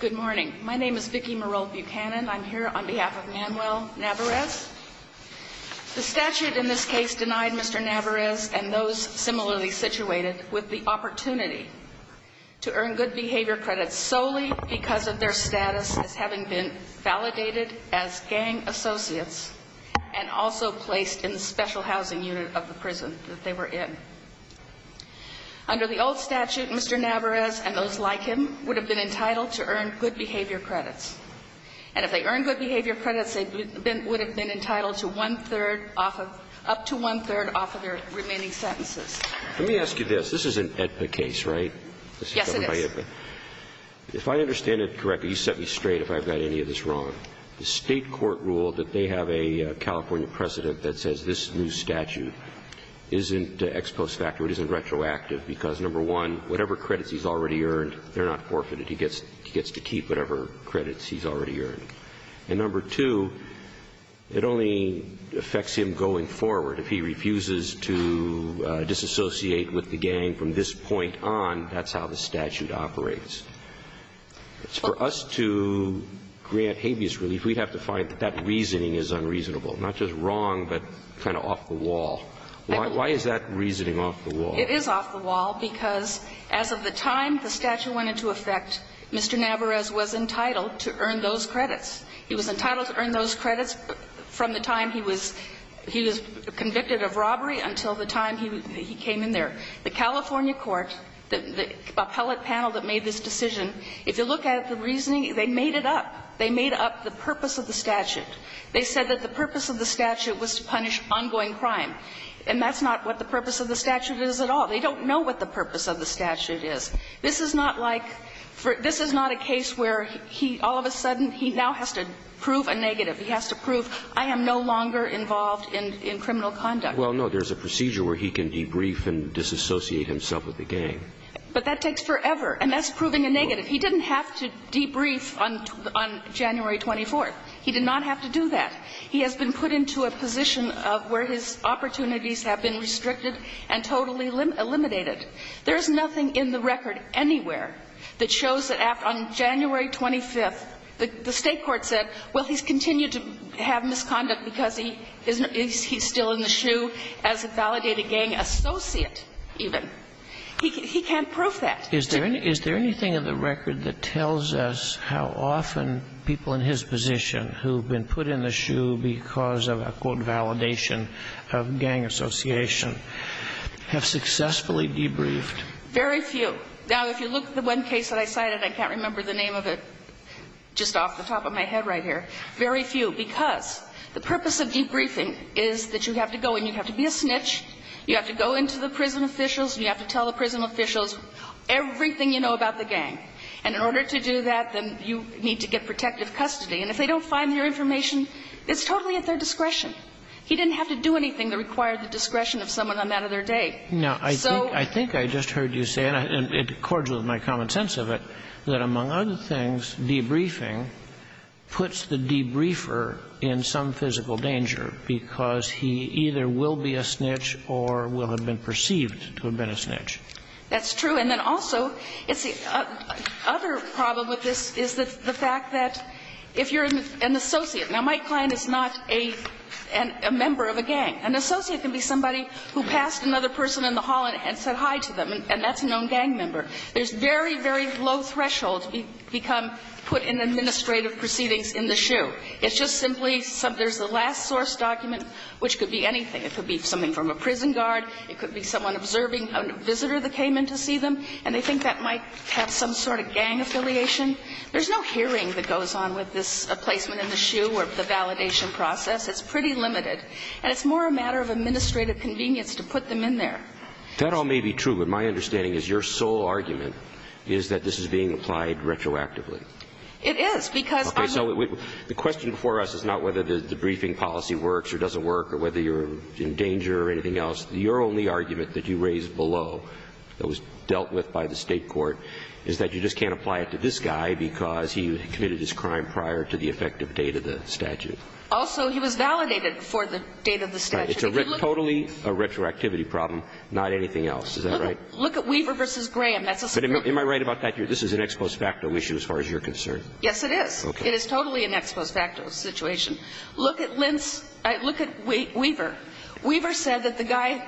Good morning. My name is Vicki Merrold Buchanan. I'm here on behalf of Manuel Navarez. The statute in this case denied Mr. Navarez and those similarly situated with the opportunity to earn good behavior credits solely because of their status as having been validated as gang associates and also placed in the special housing unit of the prison that they were in. Under the old statute, Mr. Navarez and those like him would have been entitled to earn good behavior credits. And if they earned good behavior credits, they would have been entitled to up to one-third off of their remaining sentences. Let me ask you this. This is an AEDPA case, right? Yes, it is. If I understand it correctly, you set me straight if I've got any of this wrong. The State court ruled that they have a California precedent that says this new statute isn't ex post facto, it isn't retroactive, because number one, whatever credits he's already earned, they're not forfeited. He gets to keep whatever credits he's already earned. And number two, it only affects him going forward. If he refuses to disassociate with the gang from this point on, that's how the statute operates. For us to grant habeas relief, we'd have to find that that reasoning is unreasonable, not just wrong, but kind of off the wall. Why is that reasoning off the wall? It is off the wall because as of the time the statute went into effect, Mr. Navarez was entitled to earn those credits. He was entitled to earn those credits from the time he was convicted of robbery until the time he came in there. The California court, the appellate panel that made this decision, if you look at the reasoning, they made it up. They made up the purpose of the statute. They said that the purpose of the statute was to punish ongoing crime. And that's not what the purpose of the statute is at all. They don't know what the purpose of the statute is. This is not like for this is not a case where he all of a sudden he now has to prove a negative, he has to prove I am no longer involved in criminal conduct. Well, no, there is a procedure where he can debrief and disassociate himself with the gang. But that takes forever. And that's proving a negative. He didn't have to debrief on January 24th. He did not have to do that. He has been put into a position of where his opportunities have been restricted and totally eliminated. There is nothing in the record anywhere that shows that on January 25th, the State Court said, well, he's continued to have misconduct because he's still in the shoe as a validated gang associate even. He can't prove that. Is there anything in the record that tells us how often people in his position who have been put in the shoe because of a, quote, validation of gang association have successfully debriefed? Very few. Now, if you look at the one case that I cited, I can't remember the name of it just off the top of my head right here. Very few. Because the purpose of debriefing is that you have to go and you have to be a snitch. You have to go into the prison officials and you have to tell the prison officials everything you know about the gang. And in order to do that, then you need to get protective custody. And if they don't find your information, it's totally at their discretion. He didn't have to do anything that required the discretion of someone on that other day. So ---- Now, I think I just heard you say, and it accords with my common sense of it, that among other things, debriefing puts the debriefer in some physical danger, because he either will be a snitch or will have been perceived to have been a snitch. That's true. And then also, it's the other problem with this is the fact that if you're an associate ---- now, my client is not a member of a gang. An associate can be somebody who passed another person in the hall and said hi to them, and that's a known gang member. There's very, very low thresholds put in administrative proceedings in the SHU. It's just simply there's a last source document, which could be anything. It could be something from a prison guard. It could be someone observing a visitor that came in to see them, and they think that might have some sort of gang affiliation. There's no hearing that goes on with this placement in the SHU or the validation process. It's pretty limited. And it's more a matter of administrative convenience to put them in there. That all may be true, but my understanding is your sole argument is that this is being applied retroactively. It is, because I'm not ---- Okay. So the question for us is not whether the briefing policy works or doesn't work or whether you're in danger or anything else. Your only argument that you raised below that was dealt with by the State court is that you just can't apply it to this guy because he committed this crime prior to the effective date of the statute. Also, he was validated before the date of the statute. It's totally a retroactivity problem, not anything else. Is that right? Look at Weaver v. Graham. That's a separate case. But am I right about that? This is an ex post facto issue as far as you're concerned. Yes, it is. Okay. It is totally an ex post facto situation. Look at Lentz. Look at Weaver. Weaver said that the guy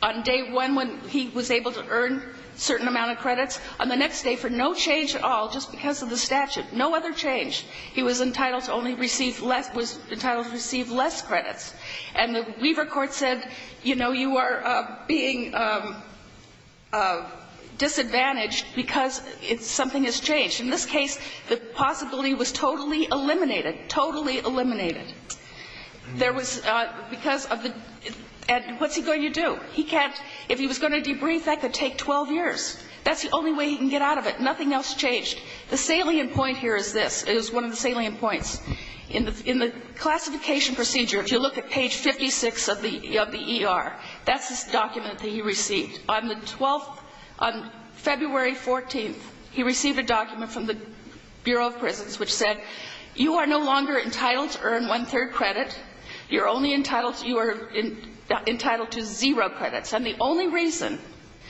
on day one, when he was able to earn a certain amount of credits, on the next day, for no change at all, just because of the statute, no other change, he was entitled to only receive less ---- was entitled to receive less credits. And the Weaver court said, you know, you are being disadvantaged because something has changed. In this case, the possibility was totally eliminated, totally eliminated. There was ---- because of the ---- and what's he going to do? He can't ---- if he was going to debrief, that could take 12 years. That's the only way he can get out of it. Nothing else changed. The salient point here is this. It is one of the salient points. In the classification procedure, if you look at page 56 of the ER, that's the document that he received. On the 12th ---- on February 14th, he received a document from the Bureau of Prisons which said, you are no longer entitled to earn one-third credit. You're only entitled to ---- you are entitled to zero credits. And the only reason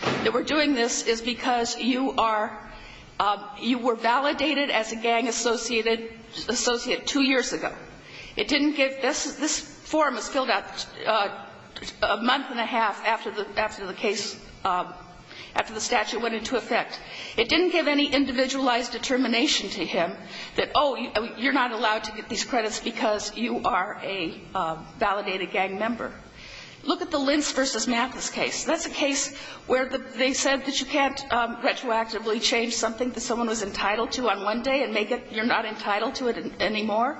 that we're doing this is because you are ---- you were entitled to it two years ago. It didn't give ---- this form was filled out a month and a half after the case ---- after the statute went into effect. It didn't give any individualized determination to him that, oh, you're not allowed to get these credits because you are a validated gang member. Look at the Lentz v. Mathis case. That's a case where they said that you can't retroactively change something that someone was entitled to on one day and make it you're not entitled to it anymore.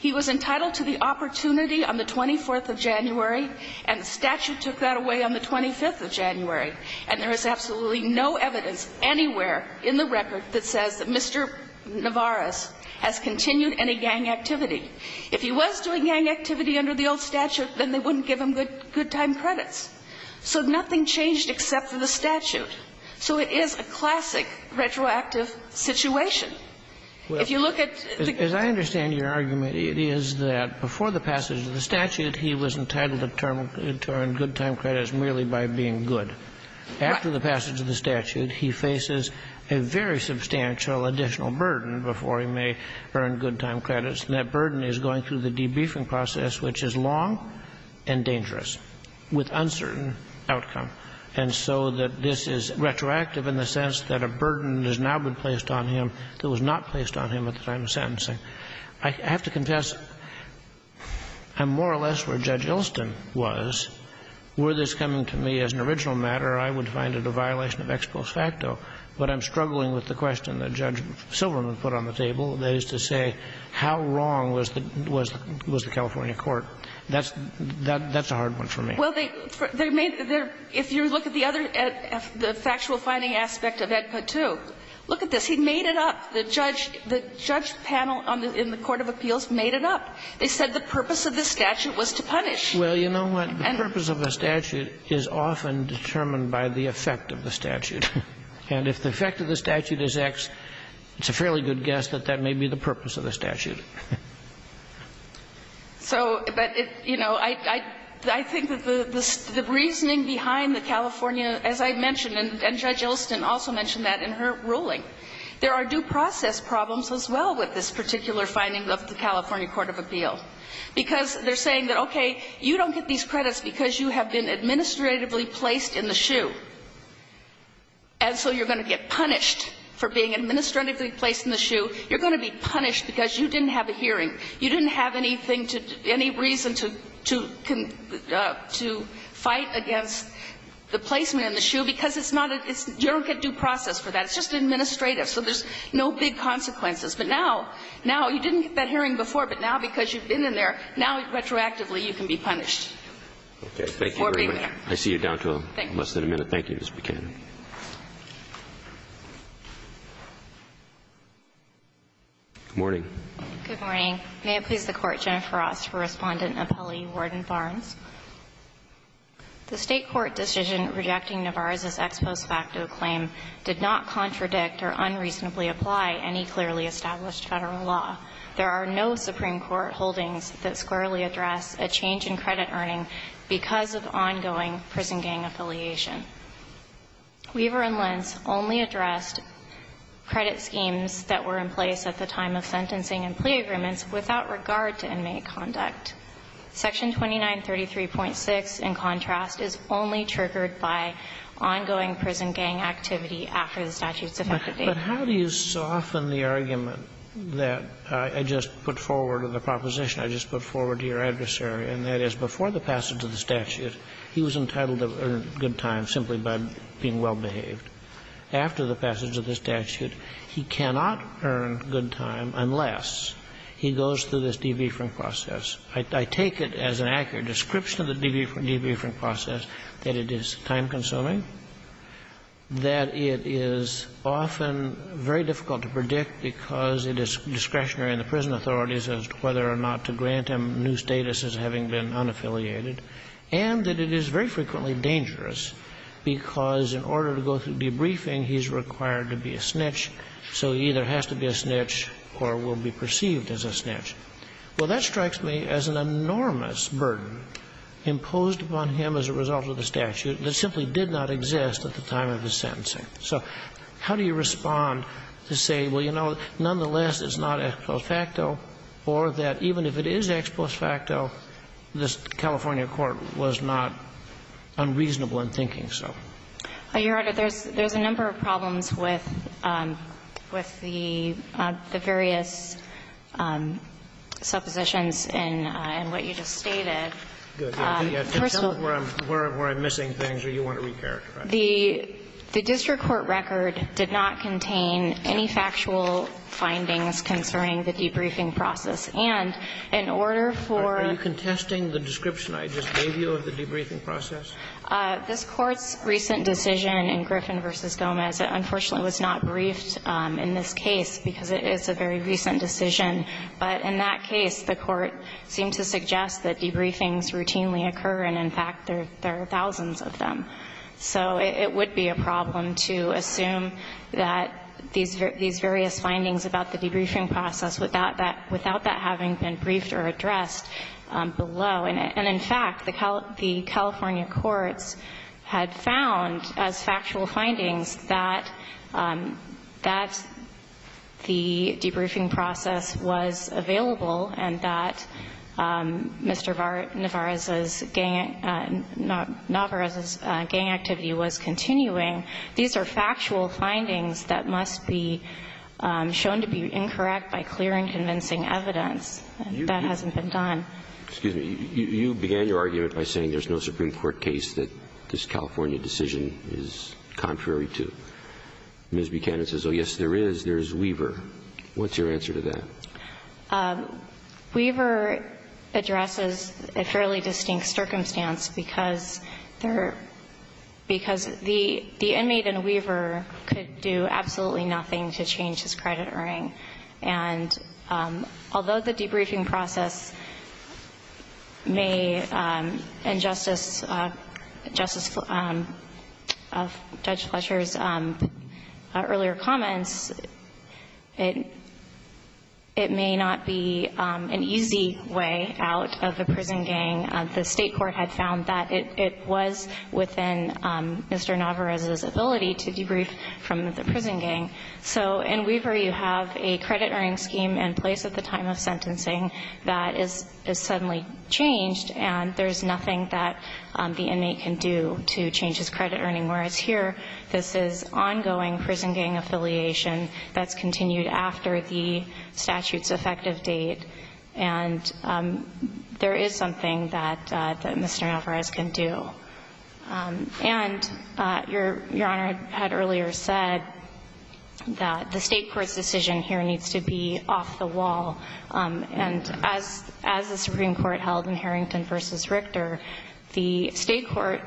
He was entitled to the opportunity on the 24th of January, and the statute took that away on the 25th of January. And there is absolutely no evidence anywhere in the record that says that Mr. Navarez has continued any gang activity. If he was doing gang activity under the old statute, then they wouldn't give him good time credits. So nothing changed except for the statute. So it is a classic retroactive situation. If you look at the ---- As I understand your argument, it is that before the passage of the statute he was entitled to earn good time credits merely by being good. Right. After the passage of the statute, he faces a very substantial additional burden before he may earn good time credits, and that burden is going through the debriefing process, which is long and dangerous with uncertain outcome. And so that this is retroactive in the sense that a burden has now been placed on him that was not placed on him at the time of sentencing. I have to confess, I'm more or less where Judge Ilston was. Were this coming to me as an original matter, I would find it a violation of ex post facto. But I'm struggling with the question that Judge Silverman put on the table, that is to say how wrong was the California court. That's a hard one for me. Well, they made their ---- if you look at the other ---- the factual finding aspect of Ed Patu, look at this. He made it up. The judge panel in the court of appeals made it up. They said the purpose of the statute was to punish. Well, you know what? The purpose of the statute is often determined by the effect of the statute. And if the effect of the statute is X, it's a fairly good guess that that may be the purpose of the statute. So, but, you know, I think that the reasoning behind the California, as I mentioned and Judge Ilston also mentioned that in her ruling, there are due process problems as well with this particular finding of the California court of appeal. Because they're saying that, okay, you don't get these credits because you have been administratively placed in the shoe. And so you're going to get punished for being administratively placed in the shoe. You're going to be punished because you didn't have a hearing. You didn't have anything to ---- any reason to ---- to fight against the placement in the shoe because it's not a ---- you don't get due process for that. It's just administrative. So there's no big consequences. But now, now, you didn't get that hearing before, but now because you've been in there, now retroactively you can be punished for being there. Roberts. Thank you very much. I see you down to less than a minute. Thank you, Ms. Buchanan. Good morning. Good morning. May it please the Court, Jennifer Ross for Respondent and Appellee Warden Barnes. The State court decision rejecting Navarrez's ex post facto claim did not contradict or unreasonably apply any clearly established Federal law. There are no Supreme Court holdings that squarely address a change in credit earning because of ongoing prison gang affiliation. Weaver and Lentz only addressed credit schemes that were in place at the time of sentencing and plea agreements without regard to inmate conduct. Section 2933.6, in contrast, is only triggered by ongoing prison gang activity after the statute's effective date. But how do you soften the argument that I just put forward in the proposition I just put forward to your adversary, and that is before the passage of the statute he was entitled to earn good time simply by being well behaved. After the passage of the statute, he cannot earn good time unless he goes through this debuffering process. I take it as an accurate description of the debuffering process, that it is time-consuming, that it is often very difficult to predict because it is discretionary in the prison authorities as to whether or not to grant him new status as having been unaffiliated, and that it is very frequently dangerous because in order to go through debriefing, he's required to be a snitch. So he either has to be a snitch or will be perceived as a snitch. Well, that strikes me as an enormous burden imposed upon him as a result of the statute that simply did not exist at the time of his sentencing. So how do you respond to say, well, you know, nonetheless, it's not ex post facto, or that even if it is ex post facto, this California court was not unreasonable in thinking so? Your Honor, there's a number of problems with the various suppositions in what you just stated. First of all, the district court record did not contain any factual findings concerning the debriefing process. And in order for the court's recent decision in Griffin v. Gomez, it unfortunately was not briefed in this case because it is a very recent decision. But in that case, the court seemed to suggest that debriefings routinely occur, and in fact, there are thousands of them. So it would be a problem to assume that these various findings about the debriefing process without that having been briefed or addressed below. And in fact, the California courts had found as factual findings that that's the debriefing process was available and that Mr. Navarez's gang activity was continuing. These are factual findings that must be shown to be incorrect by clear and convincing evidence. That hasn't been done. Excuse me. You began your argument by saying there's no Supreme Court case that this California decision is contrary to. Ms. Buchanan says, oh, yes, there is. There's Weaver. What's your answer to that? Weaver addresses a fairly distinct circumstance because the inmate in Weaver could do absolutely nothing to change his credit earring. And although the debriefing process may injustice Judge Fletcher's earlier comments, it may not be an easy way out of the prison gang. The State court had found that it was within Mr. Navarez's ability to debrief from the prison gang. So in Weaver, you have a credit earring scheme in place at the time of sentencing that is suddenly changed, and there's nothing that the inmate can do to change his credit earring. Whereas here, this is ongoing prison gang affiliation that's continued after the statute's effective date. And there is something that Mr. Navarez can do. And Your Honor had earlier said that the State court's decision here needs to be off the wall. And as the Supreme Court held in Harrington v. Richter, the State court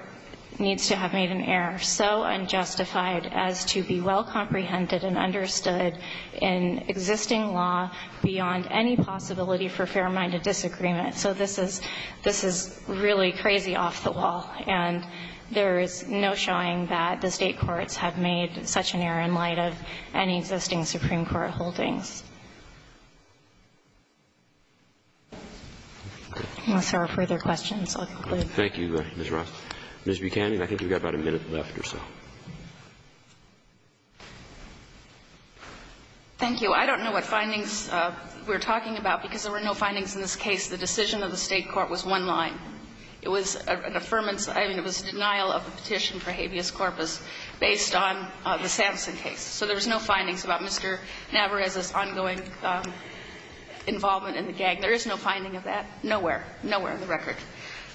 needs to have made an error so unjustified as to be well comprehended and understood in existing law beyond any possibility for fair-minded disagreement. So this is really crazy off the wall. And there is no showing that the State courts have made such an error in light of any existing Supreme Court holdings. Unless there are further questions, I'll conclude. Thank you, Ms. Ross. Ms. Buchanan, I think you've got about a minute left or so. Buchanan. Thank you. I don't know what findings we're talking about, because there were no findings in this case. The decision of the State court was one line. It was an affirmance. I mean, it was a denial of a petition for habeas corpus based on the Samson case. So there was no findings about Mr. Navarez's ongoing involvement in the gang. There is no finding of that. Nowhere. Nowhere on the record.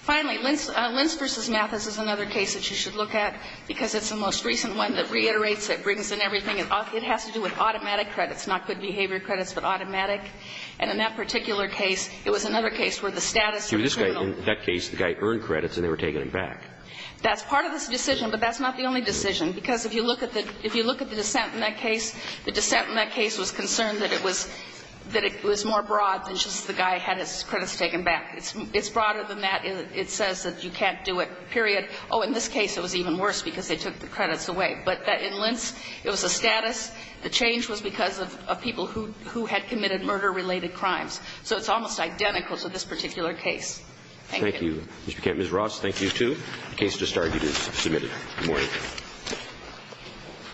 Finally, Lentz v. Mathis is another case that you should look at, because it's the most recent one that reiterates it, brings in everything. It has to do with automatic credits, not good behavior credits, but automatic. And in that particular case, it was another case where the status was neutral. In that case, the guy earned credits and they were taking them back. That's part of this decision, but that's not the only decision. Because if you look at the dissent in that case, the dissent in that case was concerned that it was more broad than just the guy had his credits taken back. It's broader than that. It says that you can't do it, period. Oh, in this case, it was even worse because they took the credits away. But in Lentz, it was a status. The change was because of people who had committed murder-related crimes. So it's almost identical to this particular case. Thank you. Roberts. Thank you, too. The case just argued is submitted. Good morning.